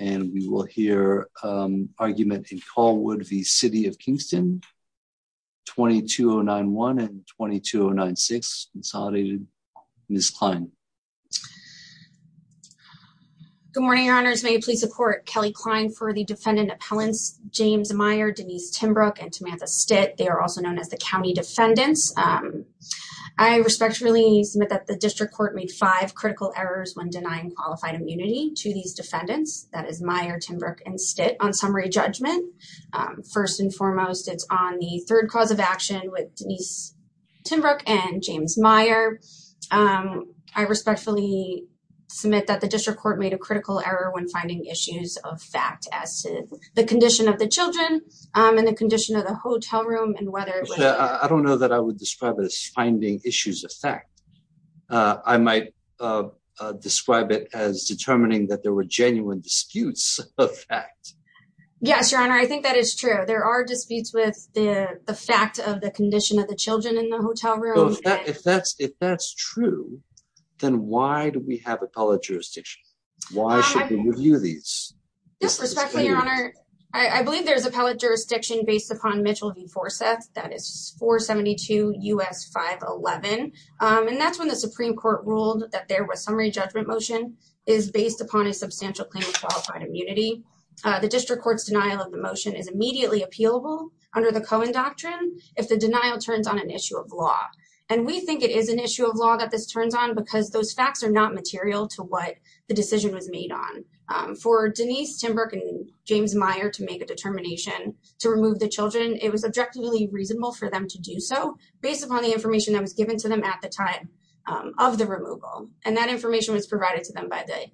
and we will hear argument in Callwood v. City of Kingston, 22091 and 22096, consolidated Ms. Kline. Good morning, your honors, may you please support Kelly Kline for the defendant appellants James Meyer, Denise Timbrook, and Tamantha Stitt, they are also known as the county defendants. I respectfully submit that the district court made five critical errors when denying qualified immunity to these defendants, that is Meyer, Timbrook, and Stitt on summary judgment. First and foremost, it's on the third cause of action with Denise Timbrook and James Meyer. I respectfully submit that the district court made a critical error when finding issues of fact as to the condition of the children and the condition of the hotel room and whether it was- I don't know that I would describe it as finding issues of fact. I might describe it as determining that there were genuine disputes of fact. Yes, your honor, I think that is true. There are disputes with the fact of the condition of the children in the hotel room. If that's true, then why do we have appellate jurisdiction? Why should we review these? Yes, respectfully, your honor, I believe there's appellate jurisdiction based upon Mitchell v. Forseth. That is 472 U.S. 511. And that's when the Supreme Court ruled that there was summary judgment motion is based upon a substantial claim of qualified immunity. The district court's denial of the motion is immediately appealable under the Cohen Doctrine if the denial turns on an issue of law. And we think it is an issue of law that this turns on because those facts are not material to what the decision was made on. For Denise Timbrook and James Meyer to make a determination to remove the children, it was objectively reasonable for them to do so based upon the information that was given to them at the time of the removal. And that information was provided to them by the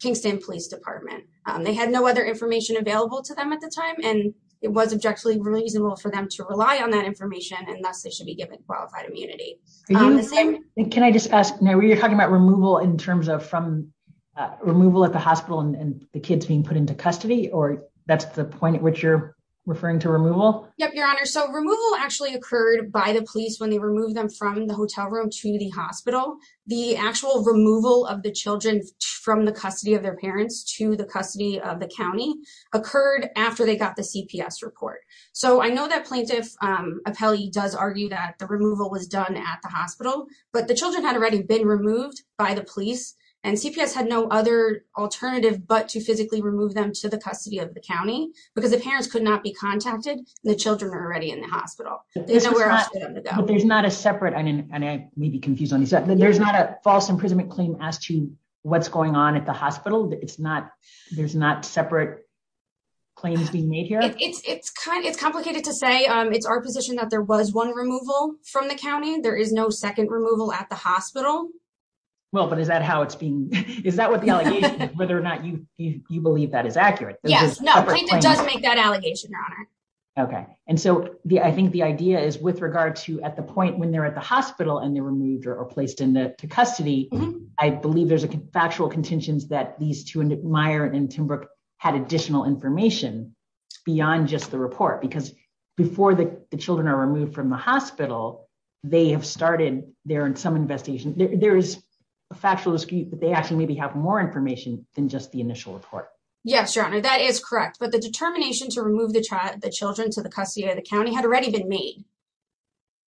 Kingston Police Department. They had no other information available to them at the time, and it was objectively reasonable for them to rely on that information, and thus they should be given qualified immunity. Can I just ask, now you're talking about removal in terms of from removal at the hospital and the kids being put into custody, or that's the point at which you're referring to removal? Yep, Your Honor. So removal actually occurred by the police when they removed them from the hotel room to the hospital. The actual removal of the children from the custody of their parents to the custody of the county occurred after they got the CPS report. So I know that Plaintiff Appelli does argue that the removal was done at the hospital, but the children had already been removed by the police, and CPS had no other alternative but to physically remove them to the custody of the county because the parents could not be contacted. The children are already in the hospital. But there's not a separate, and I may be confused on this, there's not a false imprisonment claim as to what's going on at the hospital? It's not, there's not separate claims being made here? It's complicated to say. It's our position that there was one removal from the county. There is no second removal at the hospital. Well, but is that how it's being, is that what the allegation is, whether or not you believe that is accurate? Yes. No, Plaintiff does make that allegation, Your Honor. Okay. And so I think the idea is with regard to at the point when they're at the hospital and they're removed or placed into custody, I believe there's a factual contention that these two, Meier and Timbrook, had additional information beyond just the report. Because before the children are removed from the hospital, they have started, there are some investigations, there is a factual dispute that they actually maybe have more information than just the initial report. Yes, Your Honor. That is correct. But the determination to remove the child, the children to the custody of the county had already been made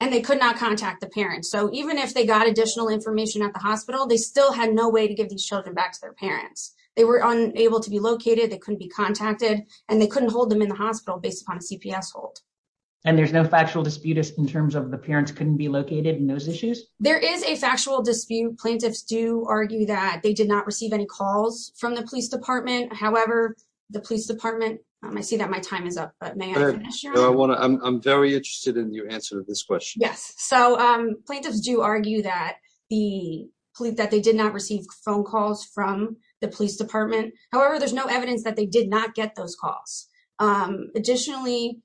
and they could not contact the parents. So even if they got additional information at the hospital, they still had no way to give these children back to their parents. They were unable to be located, they couldn't be contacted, and they couldn't hold them in the hospital based upon a CPS hold. And there's no factual dispute in terms of the parents couldn't be located in those issues? There is a factual dispute. Plaintiffs do argue that they did not receive any calls from the police department. However, the police department, I see that my time is up, but may I finish, Your Honor? I'm very interested in your answer to this question. Yes. So plaintiffs do argue that they did not receive phone calls from the police department. However, there's no evidence that they did not get those calls. Additionally,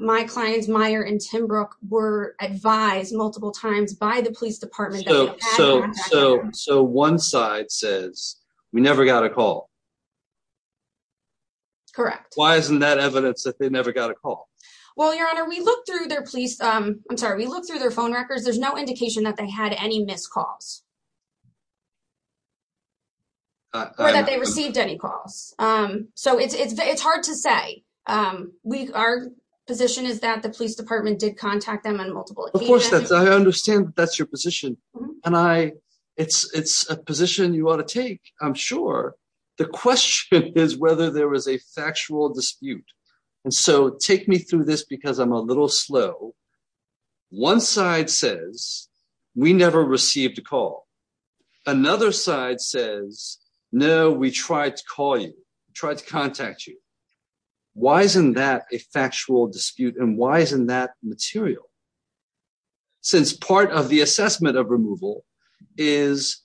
my clients, Meier and Timbrook, were advised multiple times by the police department that they had to contact them. So one side says, we never got a call. Correct. Why isn't that evidence that they never got a call? Well, Your Honor, we looked through their police, I'm sorry, we looked through their phone records. There's no indication that they had any missed calls or that they received any calls. So it's hard to say. Our position is that the police department did contact them on multiple occasions. Of course, I understand that's your position. And it's a position you ought to take, I'm sure. The question is whether there was a factual dispute. And so take me through this because I'm a little slow. One side says, we never received a call. Another side says, no, we tried to call you, tried to contact you. Why isn't that a factual dispute and why isn't that material? Since part of the assessment of removal is,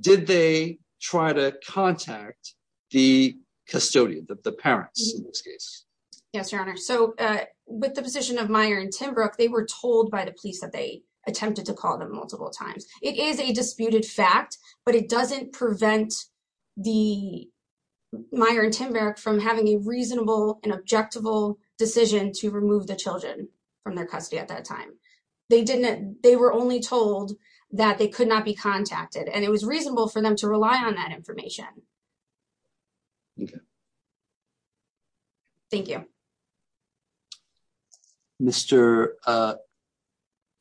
did they try to contact the custodian, the parents in this case? Yes, Your Honor. So with the position of Meyer and Timbrook, they were told by the police that they attempted to call them multiple times. It is a disputed fact, but it doesn't prevent the Meyer and Timbrook from having a reasonable and objective decision to remove the children from their custody at that time. They were only told that they could not be contacted and it was reasonable for them to rely on that information. Thank you. Mr.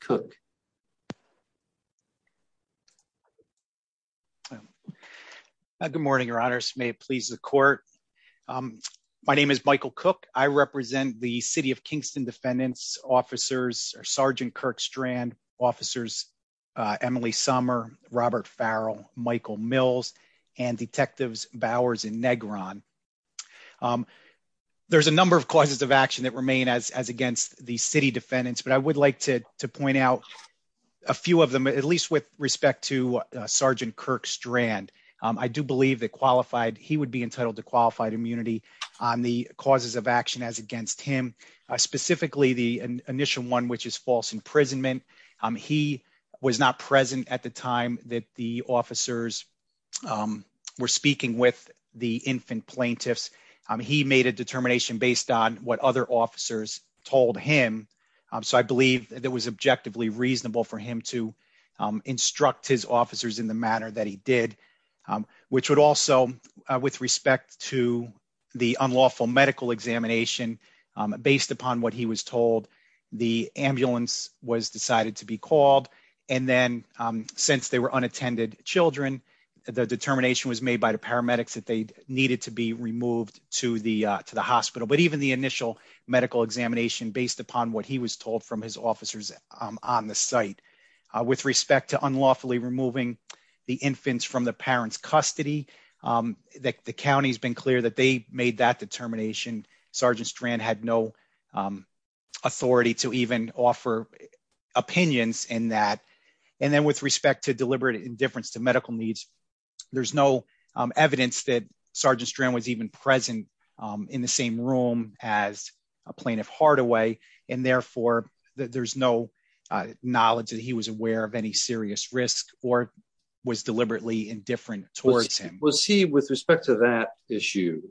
Cook. May it please the court. My name is Michael Cook. I represent the City of Kingston defendants officers, Sergeant Kirk Strand officers, Emily Summer, Robert Farrell, Michael Mills and detectives Bowers and Negron. There's a number of causes of action that remain as against the city defendants, but I would like to point out a few of them, at least with respect to Sergeant Kirk Strand. I do believe that qualified he would be entitled to qualified immunity on the causes of action as against him, specifically the initial one, which is false imprisonment. He was not present at the time that the officers were speaking with the infant plaintiffs. He made a determination based on what other officers told him. So I believe that was objectively reasonable for him to instruct his officers in the manner that he did, which would also with respect to the unlawful medical examination based upon what he was told the ambulance was decided to be called and then since they were unattended children, the determination was made by the paramedics that they needed to be removed to the to the hospital, but even the initial medical examination based upon what he was infants from the parents custody that the county's been clear that they made that determination Sergeant Strand had no authority to even offer opinions in that and then with respect to deliberate indifference to medical needs. There's no evidence that Sergeant Strand was even present in the same room as a plaintiff Hardaway and therefore there's no knowledge that he was aware of any serious risk or was deliberately indifferent towards him. Was he with respect to that issue?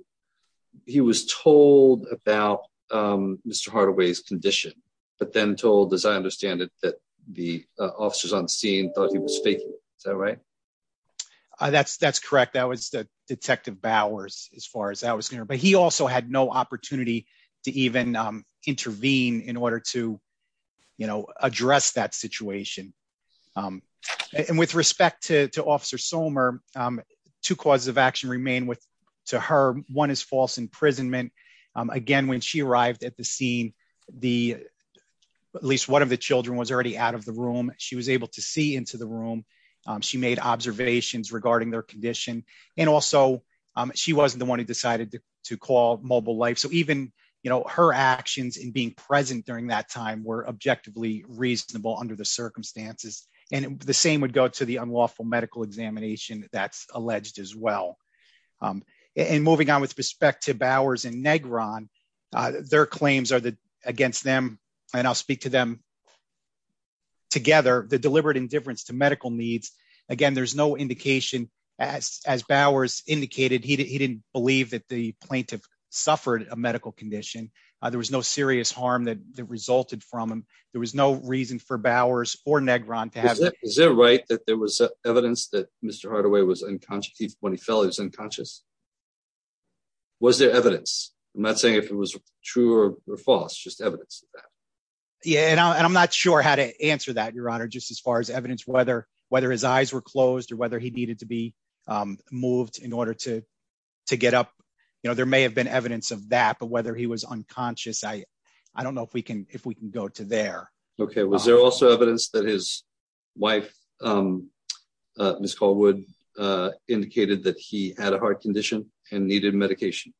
He was told about Mr. Hardaway's condition, but then told as I understand it that the officers on the scene thought he was faking it, is that right? That's correct. That was the detective Bowers as far as I was concerned, but he also had no opportunity to even intervene in order to, you know, address that situation. And with respect to Officer Somer, two causes of action remain with to her. One is false imprisonment. Again, when she arrived at the scene, the at least one of the children was already out of the room. She was able to see into the room. She made observations regarding their condition. And also she wasn't the one who decided to call mobile life. So even, you know, her actions in being present during that time were objectively reasonable under the circumstances. And the same would go to the unlawful medical examination that's alleged as well. And moving on with respect to Bowers and Negron, their claims are that against them, and I'll speak to them together, the deliberate indifference to medical needs. Again, there's no indication as Bowers indicated, he didn't believe that the plaintiff suffered a medical condition. There was no serious harm that resulted from him. There was no reason for Bowers or Negron to have it. Is it right that there was evidence that Mr. Hardaway was unconscious when he fell, he was unconscious? Was there evidence? I'm not saying if it was true or false, just evidence of that. Yeah. And I'm not sure how to answer that, Your Honor, just as far as evidence, whether whether his eyes were closed or whether he needed to be moved in order to, to get up, you know, there may have been evidence of that, but whether he was unconscious, I, I don't know if we can, if we can go to there. Okay. Was there also evidence that his wife, um, uh, Ms. Caldwell, uh, indicated that he had a heart condition and needed medication?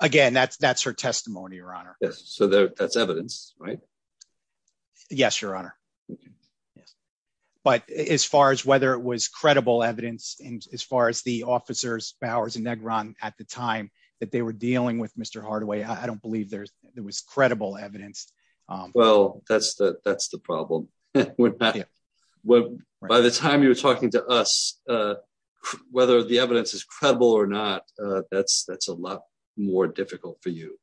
Again, that's, that's her testimony, Your Honor. Yes. So that's evidence, right? Yes, Your Honor. Yes. But as far as whether it was credible evidence, as far as the officers Bowers and Negron at the time that they were dealing with Mr. Hardaway, I don't believe there's, there was credible evidence. Um, well, that's the, that's the problem when, by the time you were talking to us, uh, whether the evidence is credible or not, uh, that's, that's a lot more difficult for you.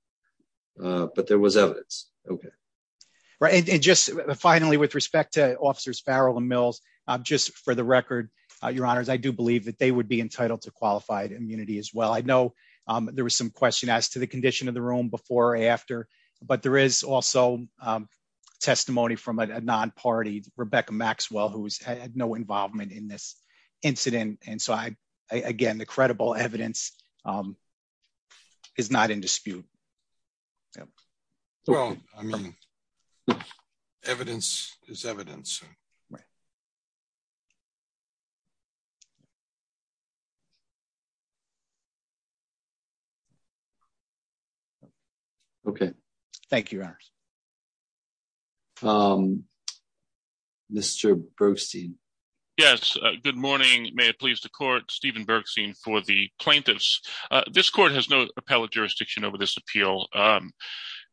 Uh, but there was evidence. Okay. Right. And just finally, with respect to officers Farrell and Mills, um, just for the record, uh, Your Honors, I do believe that they would be entitled to qualified immunity as well. I know, um, there was some question as to the condition of the room before or after, but there is also, um, testimony from a non-party, Rebecca Maxwell, who's had no involvement in this incident. And so I, I, again, the credible evidence, um, is not in dispute. Yeah. Well, I mean, evidence is evidence. Right. Okay. Thank you, Your Honors. Um, Mr. Bergstein. Yes. Good morning. May it please the court, Steven Bergstein for the plaintiffs. Uh, this court has no appellate jurisdiction over this appeal. Um,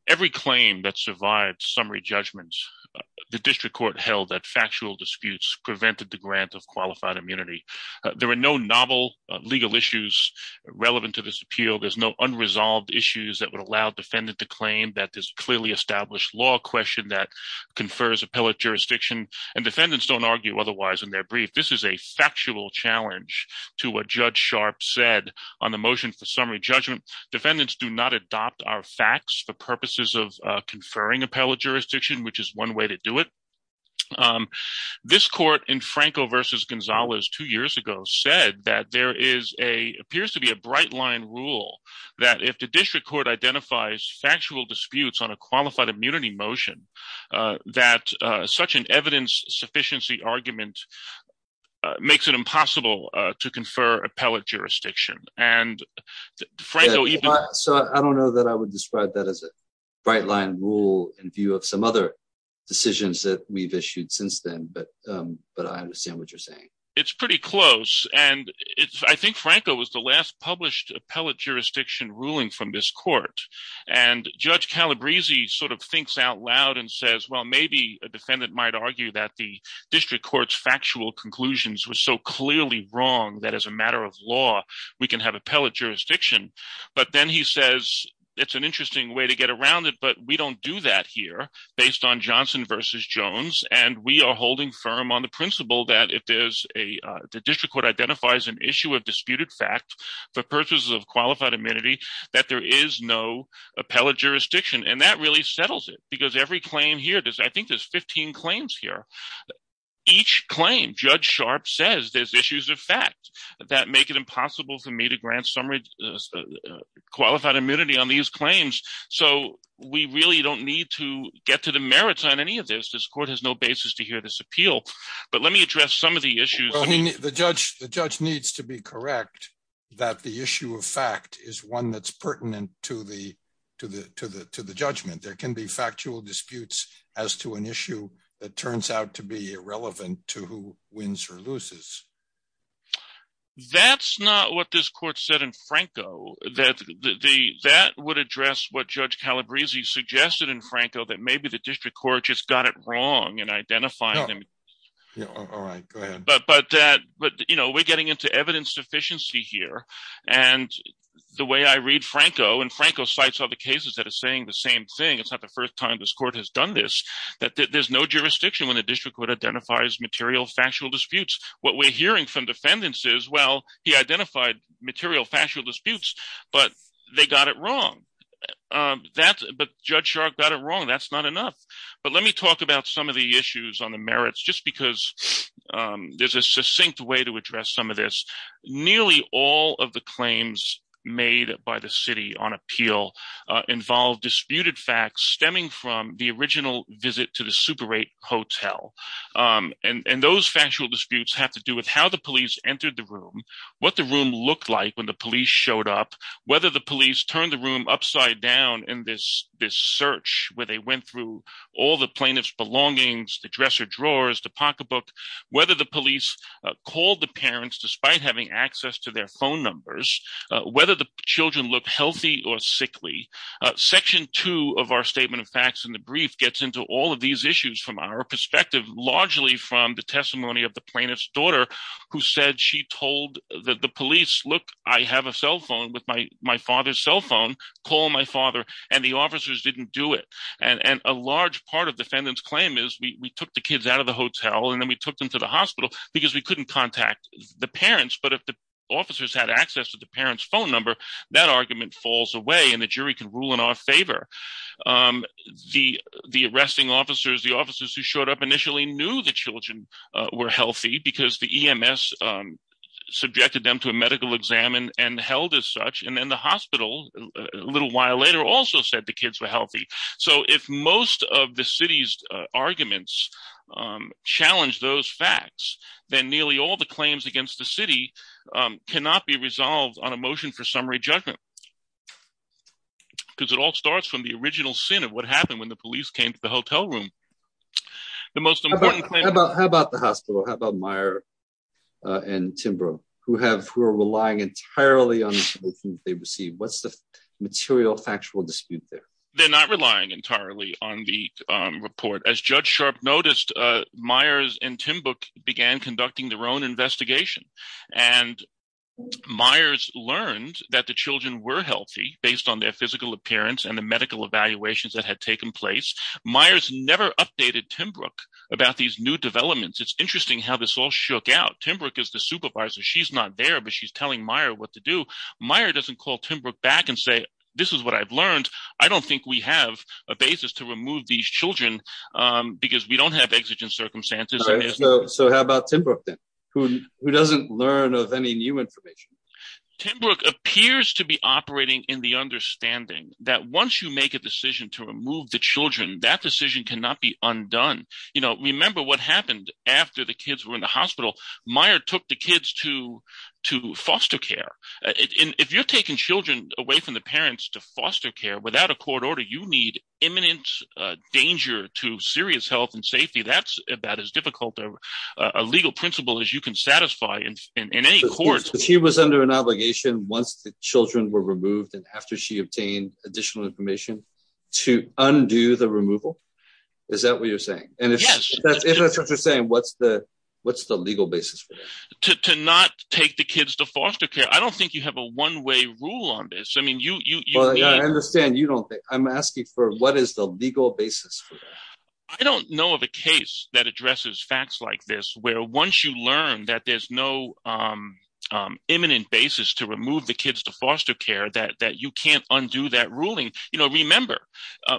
every claim that survived summary judgments, uh, the district court held that factual disputes prevented the grant of qualified immunity. Uh, there were no novel, uh, legal issues relevant to this appeal. There's no unresolved issues that would allow defendant to claim that this clearly established law question that confers appellate jurisdiction and defendants don't argue otherwise in their brief. This is a factual challenge to what Judge Sharp said on the motion for summary judgment. Defendants do not adopt our facts for purposes of, uh, conferring appellate jurisdiction, which is one way to do it. Um, this court in Franco versus Gonzalez two years ago said that there is a, appears to be a bright line rule that if the district court identifies factual disputes on a qualified immunity motion, uh, that, uh, such an evidence sufficiency argument, uh, makes it impossible, uh, to confer appellate jurisdiction. And so I don't know that I would describe that as a bright line rule in view of some other decisions that we've issued since then. But, um, but I understand what you're saying. It's pretty close. And it's, I think Franco was the last published appellate jurisdiction ruling from this court and Judge Calabrese sort of thinks out loud and says, well, maybe a defendant might argue that the district court's factual conclusions were so clearly wrong. That as a matter of law, we can have appellate jurisdiction. But then he says, it's an interesting way to get around it, but we don't do that here based on Johnson versus Jones. And we are holding firm on the principle that if there's a, uh, the district court identifies an issue of disputed fact for purposes of qualified immunity, that there is no appellate jurisdiction. And that really settles it because every claim here does, I think there's 15 claims here. Each claim, Judge Sharp says, there's issues of fact that make it impossible for me to grant some qualified immunity on these claims. So we really don't need to get to the merits on any of this. This court has no basis to hear this appeal, but let me address some of the issues. I mean, the judge, the judge needs to be correct that the issue of fact is one that's pertinent to the, to the, to the, to the judgment. There can be factual disputes as to an issue that turns out to be irrelevant to who wins or loses. That's not what this court said in Franco, that the, that would address what Judge Calabrese suggested in Franco, that maybe the district court just got it wrong and identifying them. But, but, but, you know, we're getting into evidence sufficiency here and the way I read this thing, it's not the first time this court has done this, that there's no jurisdiction when the district would identify as material factual disputes. What we're hearing from defendants is, well, he identified material factual disputes, but they got it wrong. That, but Judge Sharp got it wrong. That's not enough. But let me talk about some of the issues on the merits, just because there's a succinct way to address some of this. Nearly all of the claims made by the city on appeal involved disputed facts stemming from the original visit to the Super 8 hotel. And those factual disputes have to do with how the police entered the room, what the room looked like when the police showed up, whether the police turned the room upside down in this, this search where they went through all the plaintiff's belongings, the dresser drawers, the pocketbook, whether the police called the parents despite having access to their phone numbers, whether the children look healthy or sickly. Section two of our statement of facts in the brief gets into all of these issues from our perspective, largely from the testimony of the plaintiff's daughter who said she told the police, look, I have a cell phone with my father's cell phone. Call my father. And the officers didn't do it. And a large part of defendant's claim is we took the kids out of the hotel and then we If the officers had access to the parents' phone number, that argument falls away and the jury can rule in our favor. The arresting officers, the officers who showed up initially knew the children were healthy because the EMS subjected them to a medical exam and held as such. And then the hospital, a little while later, also said the kids were healthy. So if most of the city's arguments challenge those facts, then nearly all the claims against the city cannot be resolved on a motion for summary judgment. Because it all starts from the original sin of what happened when the police came to the hotel room. How about the hospital? How about Meyer and Timbro? Who are relying entirely on the information they received? What's the material factual dispute there? They're not relying entirely on the report. As Judge Sharp noticed, Meyers and Timbro began conducting their own investigation. And Meyers learned that the children were healthy based on their physical appearance and the medical evaluations that had taken place. Meyers never updated Timbro about these new developments. It's interesting how this all shook out. Timbro is the supervisor. She's not there, but she's telling Meyer what to do. Meyer doesn't call Timbro back and say, this is what I've learned. I don't think we have a basis to remove these children because we don't have exigent circumstances. So how about Timbro then? Who doesn't learn of any new information? Timbro appears to be operating in the understanding that once you make a decision to remove the children, that decision cannot be undone. You know, remember what happened after the kids were in the hospital. Meyer took the kids to foster care. If you're taking children away from the parents to foster care without a court order, you need imminent danger to serious health and safety. That's about as difficult a legal principle as you can satisfy in any court. She was under an obligation once the children were removed and after she obtained additional information to undo the removal? Is that what you're saying? Yes. If that's what you're saying, what's the legal basis for that? To not take the kids to foster care. I don't think you have a one-way rule on this. I understand you don't. I'm asking for what is the legal basis for that. I don't know of a case that addresses facts like this where once you learn that there's no imminent basis to remove the kids to foster care, that you can't undo that ruling. Remember,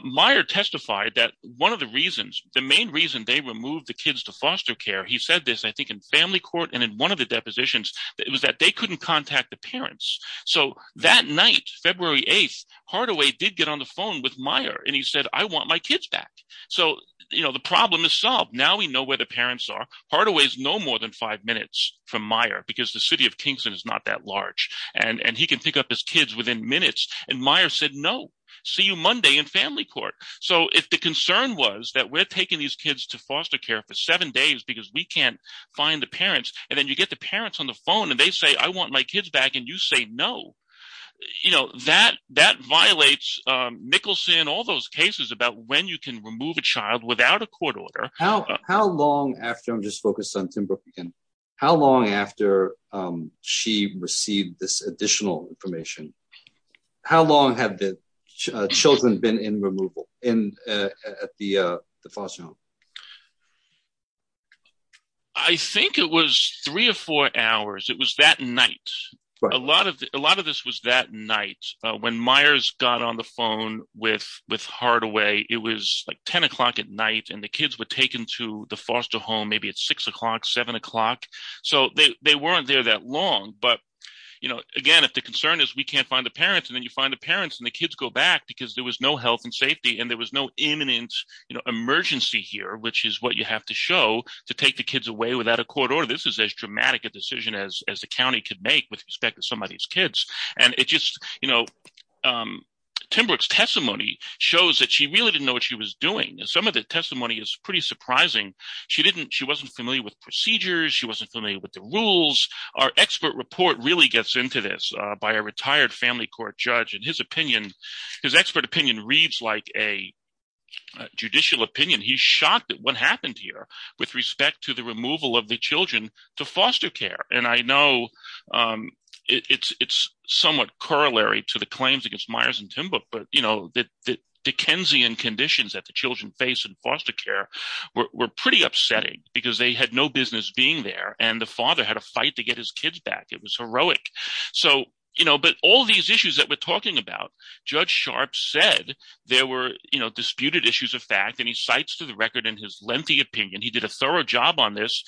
Meyer testified that one of the reasons, the main reason they removed the kids to foster care, he said this I think in family court and in one of the cases where they didn't contact the parents. So that night, February 8th, Hardaway did get on the phone with Meyer and he said, I want my kids back. So the problem is solved. Now we know where the parents are. Hardaway is no more than five minutes from Meyer because the city of Kingston is not that large. And he can pick up his kids within minutes. And Meyer said, no. See you Monday in family court. So if the concern was that we're taking these kids to foster care for seven days because we can't find the parents. And then you get the parents on the phone and they say I want my kids back and you say no. You know, that violates Mickelson, all those cases about when you can remove a child without a court order. How long after, I'm just focused on Tim Brook again, how long after she received this additional information, how long have the children been in removal at the foster home? I think it was three or four hours. It was that night. A lot of this was that night. When Meyer's got on the phone with Hardaway, it was like 10 o'clock at night and the kids were taken to the foster home maybe at 6 o'clock, 7 o'clock. So they weren't there that long. But, you know, again, if the concern is we can't find the parents and then you find the parents and the kids go back because there was no health and safety and there was no imminent emergency here. Which is what you have to show to take the kids away without a court order. This is as dramatic a decision as the county could make with respect to some of these kids. Tim Brook's testimony shows that she really didn't know what she was doing. Some of the testimony is pretty surprising. She wasn't familiar with procedures. She wasn't familiar with the rules. Our expert report really gets into this by a retired family court judge and his opinion, his expert opinion reads like a judicial opinion. He's shocked at what happened here with respect to the removal of the children to foster care. And I know it's somewhat corollary to the claims against Myers and Timbrook. But, you know, the Dickensian conditions that the children face in foster care were pretty upsetting because they had no business being there. And the father had a fight to get his kids back. It was heroic. So, you know, but all these issues that we're talking about, Judge Sharp said there were, you know, disputed issues of fact. And he cites to the record in his lengthy opinion, he did a thorough job on this.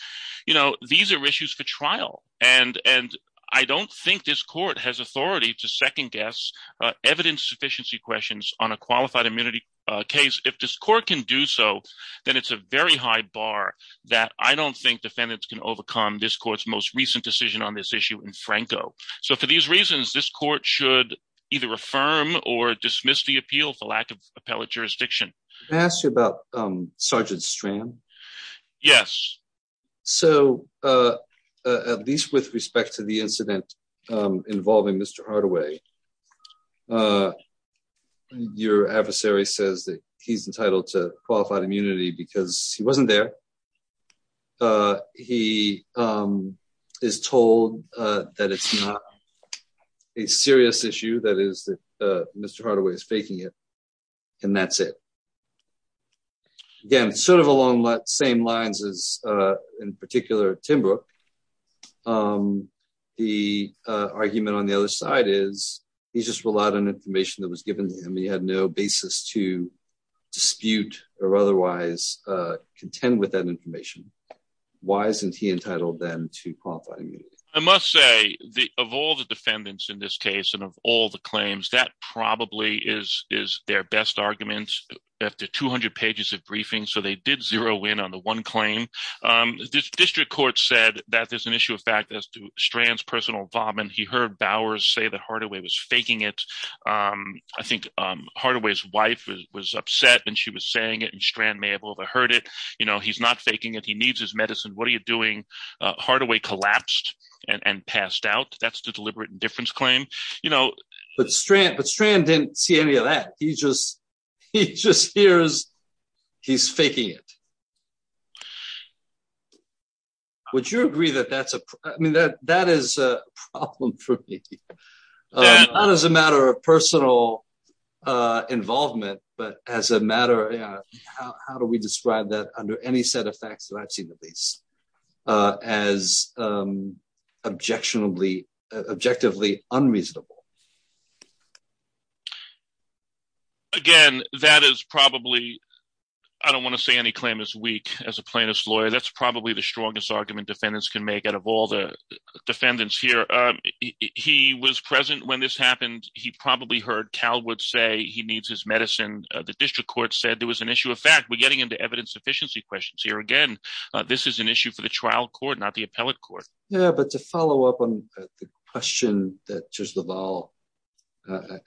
You know, these are issues for trial. And I don't think this court has authority to second guess evidence sufficiency questions on a qualified immunity case. If this court can do so, then it's a very high bar that I don't think defendants can overcome this court's most recent decision on this issue in Franco. So for these reasons, this court should either affirm or dismiss the appeal for lack of appellate jurisdiction. Can I ask you about Sergeant Strand? Yes. So at least with respect to the incident involving Mr. Hardaway, your adversary says that he's entitled to qualified immunity because he wasn't there. He is told that it's not a serious issue, that is that Mr. Hardaway is entitled to qualified immunity. That's it. Again, sort of along the same lines as in particular Timbrook, the argument on the other side is he's just relied on information that was given to him. He had no basis to dispute or otherwise contend with that information. Why isn't he entitled then to qualified immunity? I must say of all the defendants in this case and of all the claims, that Mr. Hardaway probably is their best argument after 200 pages of briefing. So they did zero in on the one claim. The district court said that there's an issue of fact as to Strand's personal involvement. He heard Bowers say that Hardaway was faking it. I think Hardaway's wife was upset and she was saying it and Strand may have overheard it. He's not faking it. He needs his medicine. What are you doing? Hardaway collapsed and passed out. That's the deliberate indifference claim. But Strand didn't see any of that. He just hears he's faking it. Would you agree that that's a problem? That is a problem for me. Not as a matter of personal involvement, but as a matter of how do we describe that under any set of facts that I've seen at least. As objectively unreasonable. Again, that is probably I don't want to say any claim is weak as a plaintiff's lawyer. That's probably the strongest argument defendants can make out of all the defendants here. He was present when this happened. He probably heard Calwood say he needs his medicine. The district court said there was an issue of fact. We're getting into evidence efficiency questions here again. This is an issue of fact. This is an issue for the trial court, not the appellate court. Yeah, but to follow up on the question that just the ball.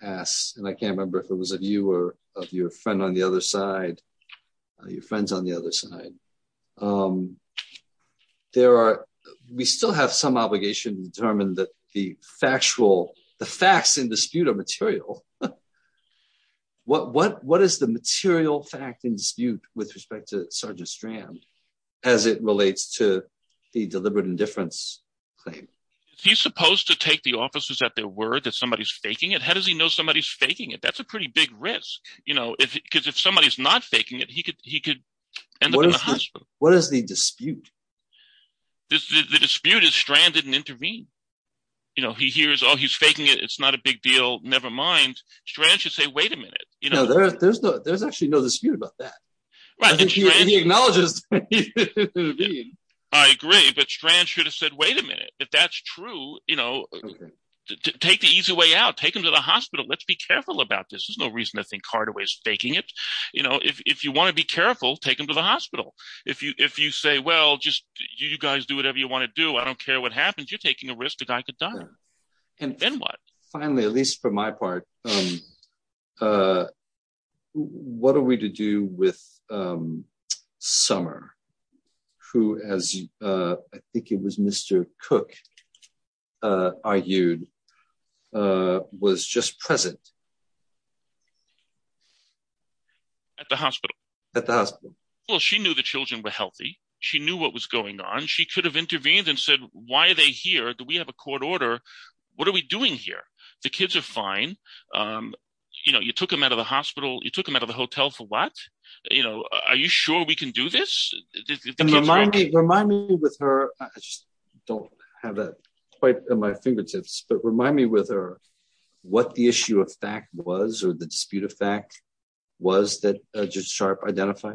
Ass and I can't remember if it was a viewer of your friend on the other side. Your friends on the other side. There are. We still have some obligation to determine that the factual the facts in dispute of material. What, what, what is the material fact in dispute with respect to Sergeant Strand as it relates to the deliberate indifference claim? He's supposed to take the officers at their word that somebody's faking it. How does he know somebody's faking it? That's a pretty big risk. You know, if, because if somebody is not faking it, he could, he could end up in the hospital. What is the dispute? The dispute is stranded and intervene. You know, he hears, oh, he's faking it. It's not a big deal. Nevermind. Strand should say, wait a minute. You know, there's no, there's actually no dispute about that. Right. He acknowledges. I agree. But strand should have said, wait a minute. If that's true, you know, take the easy way out, take him to the hospital. Let's be careful about this. There's no reason to think Carter was faking it. You know, if you want to be careful, take him to the hospital. If you, if you say, well, just you guys do whatever you want to do. I don't care what happens. You're taking a risk. And then what? Finally, at least for my part. What are we to do with. Summer. Who has. I think it was Mr. Cook. Are you. Was just present. At the hospital. At the hospital. Well, she knew the children were healthy. She knew what was going on. She could have intervened and said, why are they here? Do we have a court order? What are we doing here? The kids are fine. You know, you took him out of the hospital. You took him out of the hotel for what? You know, are you sure we can do this? Remind me, remind me with her. I just don't have that. Quite on my fingertips, but remind me with her. What the issue of fact was, or the dispute of fact. Was that. Just sharp identify.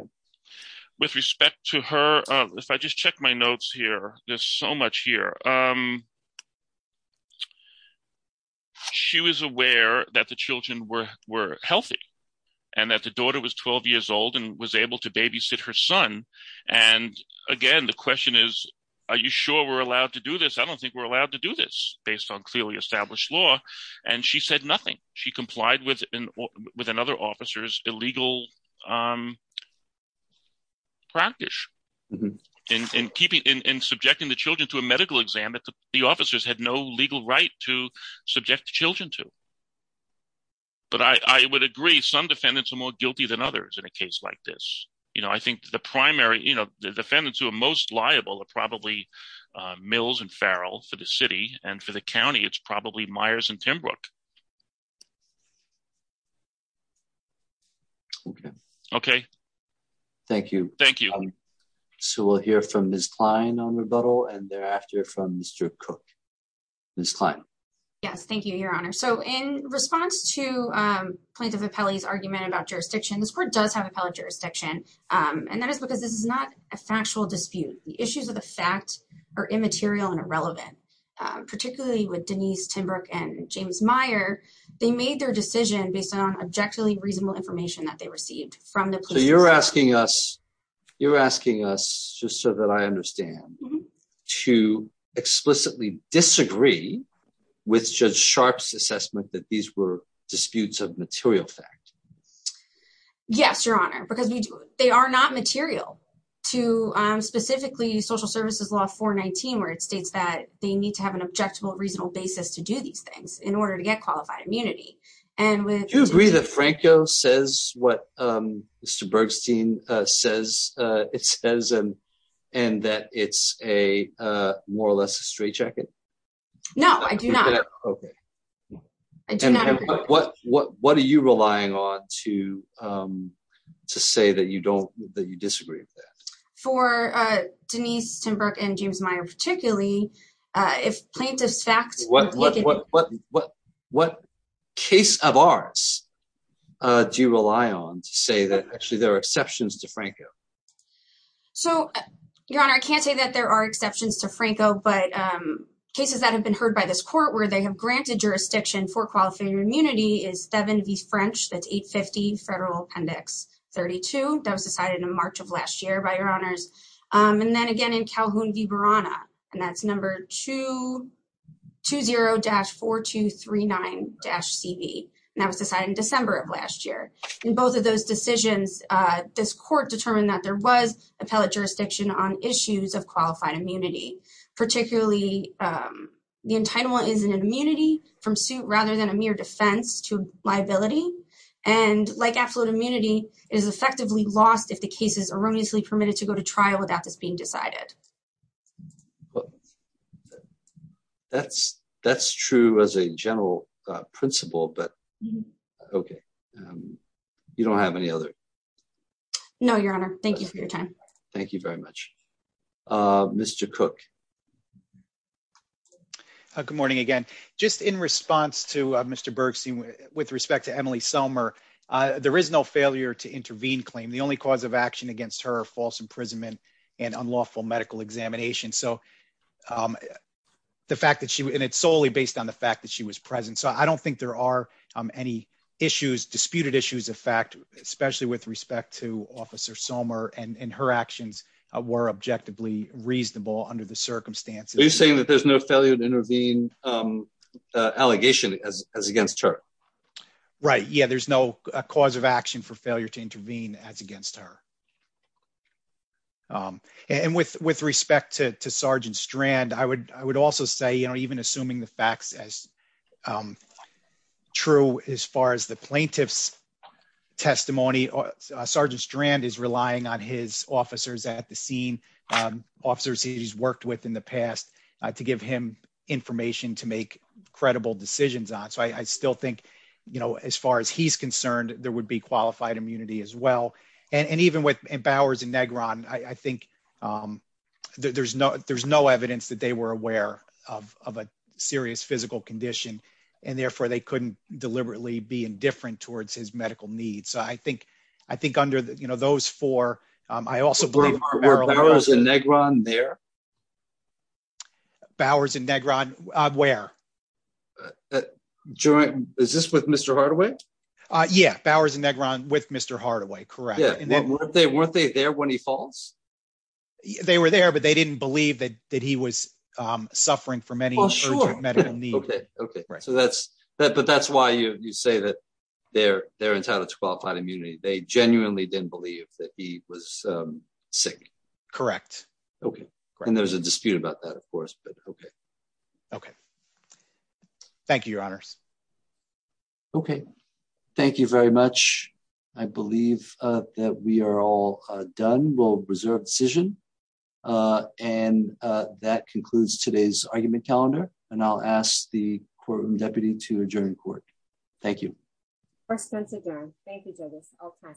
With respect to her. If I just check my notes here. There's so much here. She was aware that the children were, were healthy. And that the daughter was 12 years old and was able to babysit her son. And again, the question is. Are you sure we're allowed to do this? I don't think we're allowed to do this based on clearly established law. And she said nothing. She complied with. With another officer's illegal. Practice. And keeping in subjecting the children to a medical exam. The officers had no legal right to subject the children to. But I would agree. Some defendants are more guilty than others in a case like this. You know, I think the primary, you know, the defendants who are most liable. Probably. Mills and Farrell for the city. And for the county, it's probably Myers and Timbrook. Okay. Thank you. Thank you. So we'll hear from this client on rebuttal and thereafter from Mr. Cook. This client. Yes. Thank you, your honor. So in response to. I just want to make a point of appellee's argument about jurisdiction. This court does have appellate jurisdiction. And that is because this is not a factual dispute. The issues of the fact. Or immaterial and irrelevant. Particularly with Denise Timbrook and James Meyer. They made their decision based on objectively reasonable information that they received from the. You're asking us. You're asking us just so that I understand. I'm asking you. I'm asking you to understand. To explicitly disagree. With judge Sharpe's assessment that these were disputes of material fact. Yes, your honor, because we do. They are not material. To specifically social services law for 19, where it states that they need to have an objective, a reasonable basis to do these things in order to get qualified immunity. And with. You agree that Franco says what. Mr. Bergstein says. It says. And that it's a more or less a straight jacket. No, I do not. Okay. I do not. What, what, what are you relying on to. To say that you don't, that you disagree. For Denise Timbrook and James Meyer, particularly. If plaintiff's facts. What, what, what, what, what. Case of ours. Do you rely on to say that actually there are exceptions to Franco? So. Your honor, I can't say that there are exceptions to Franco, but. Cases that have been heard by this court, where they have granted jurisdiction for qualifier immunity is seven. The French that's eight 50 federal appendix. 32. That was decided in March of last year by your honors. And then again in Calhoun. And that's number two. Two zero dash four, two, three, nine dash CV. And that was decided in December of last year. And both of those decisions. This court determined that there was a pellet jurisdiction on issues of qualified immunity. Particularly. The entitlement is an immunity from suit rather than a mere defense to liability. And like absolute immunity is effectively lost. If the case is erroneously permitted to go to trial without this being decided. That's that's true as a general principle, but. Okay. You don't have any other. No, your honor. Thank you for your time. Thank you very much. Mr. Cook. Good morning again. Just in response to Mr. Bergstein with respect to Emily Selmer. There is no failure to intervene claim. The only cause of action against her false imprisonment. And unlawful medical examination. So. The fact that she, and it's solely based on the fact that she was present. So I don't think there are any issues disputed issues of fact, especially with respect to officer Somer and, and her actions were objectively reasonable under the circumstances. Are you saying that there's no failure to intervene? Allegation as, as against her. Right. Yeah. There's no cause of action for failure to intervene as against her. And with, with respect to, to sergeant strand, I would, I would also say, you know, even assuming the facts as. True. As far as the plaintiffs. Testimony sergeant strand is relying on his officers at the scene. Officers he's worked with in the past. To give him information to make credible decisions on. So I still think, you know, as far as he's concerned, there would be qualified immunity as well. And, and even with Bowers and Negron, I think. There's no, there's no evidence that they were aware of, of a serious physical condition. And therefore they couldn't deliberately be indifferent towards his medical needs. So I think, I think under the, you know, those four, I also believe are. There. Bowers and Negron where. During, is this with Mr. Hardaway? Yeah. Bowers and Negron with Mr. Hardaway. Correct. They weren't there when he falls. They were there, but they didn't believe that, that he was suffering from any medical need. Okay. Okay. Right. So that's that, but that's why you, you say that. They're they're entitled to qualified immunity. They genuinely didn't believe that he was sick. Correct. Okay. And there's a dispute about that, of course, but okay. Okay. Thank you, your honors. Okay. Thank you very much. I believe that we are all done. We'll reserve decision. And that concludes today's argument calendar. And I'll ask the courtroom deputy to adjourn court. Thank you. Thank you. Thank you. Thank you all for listening. Thank you.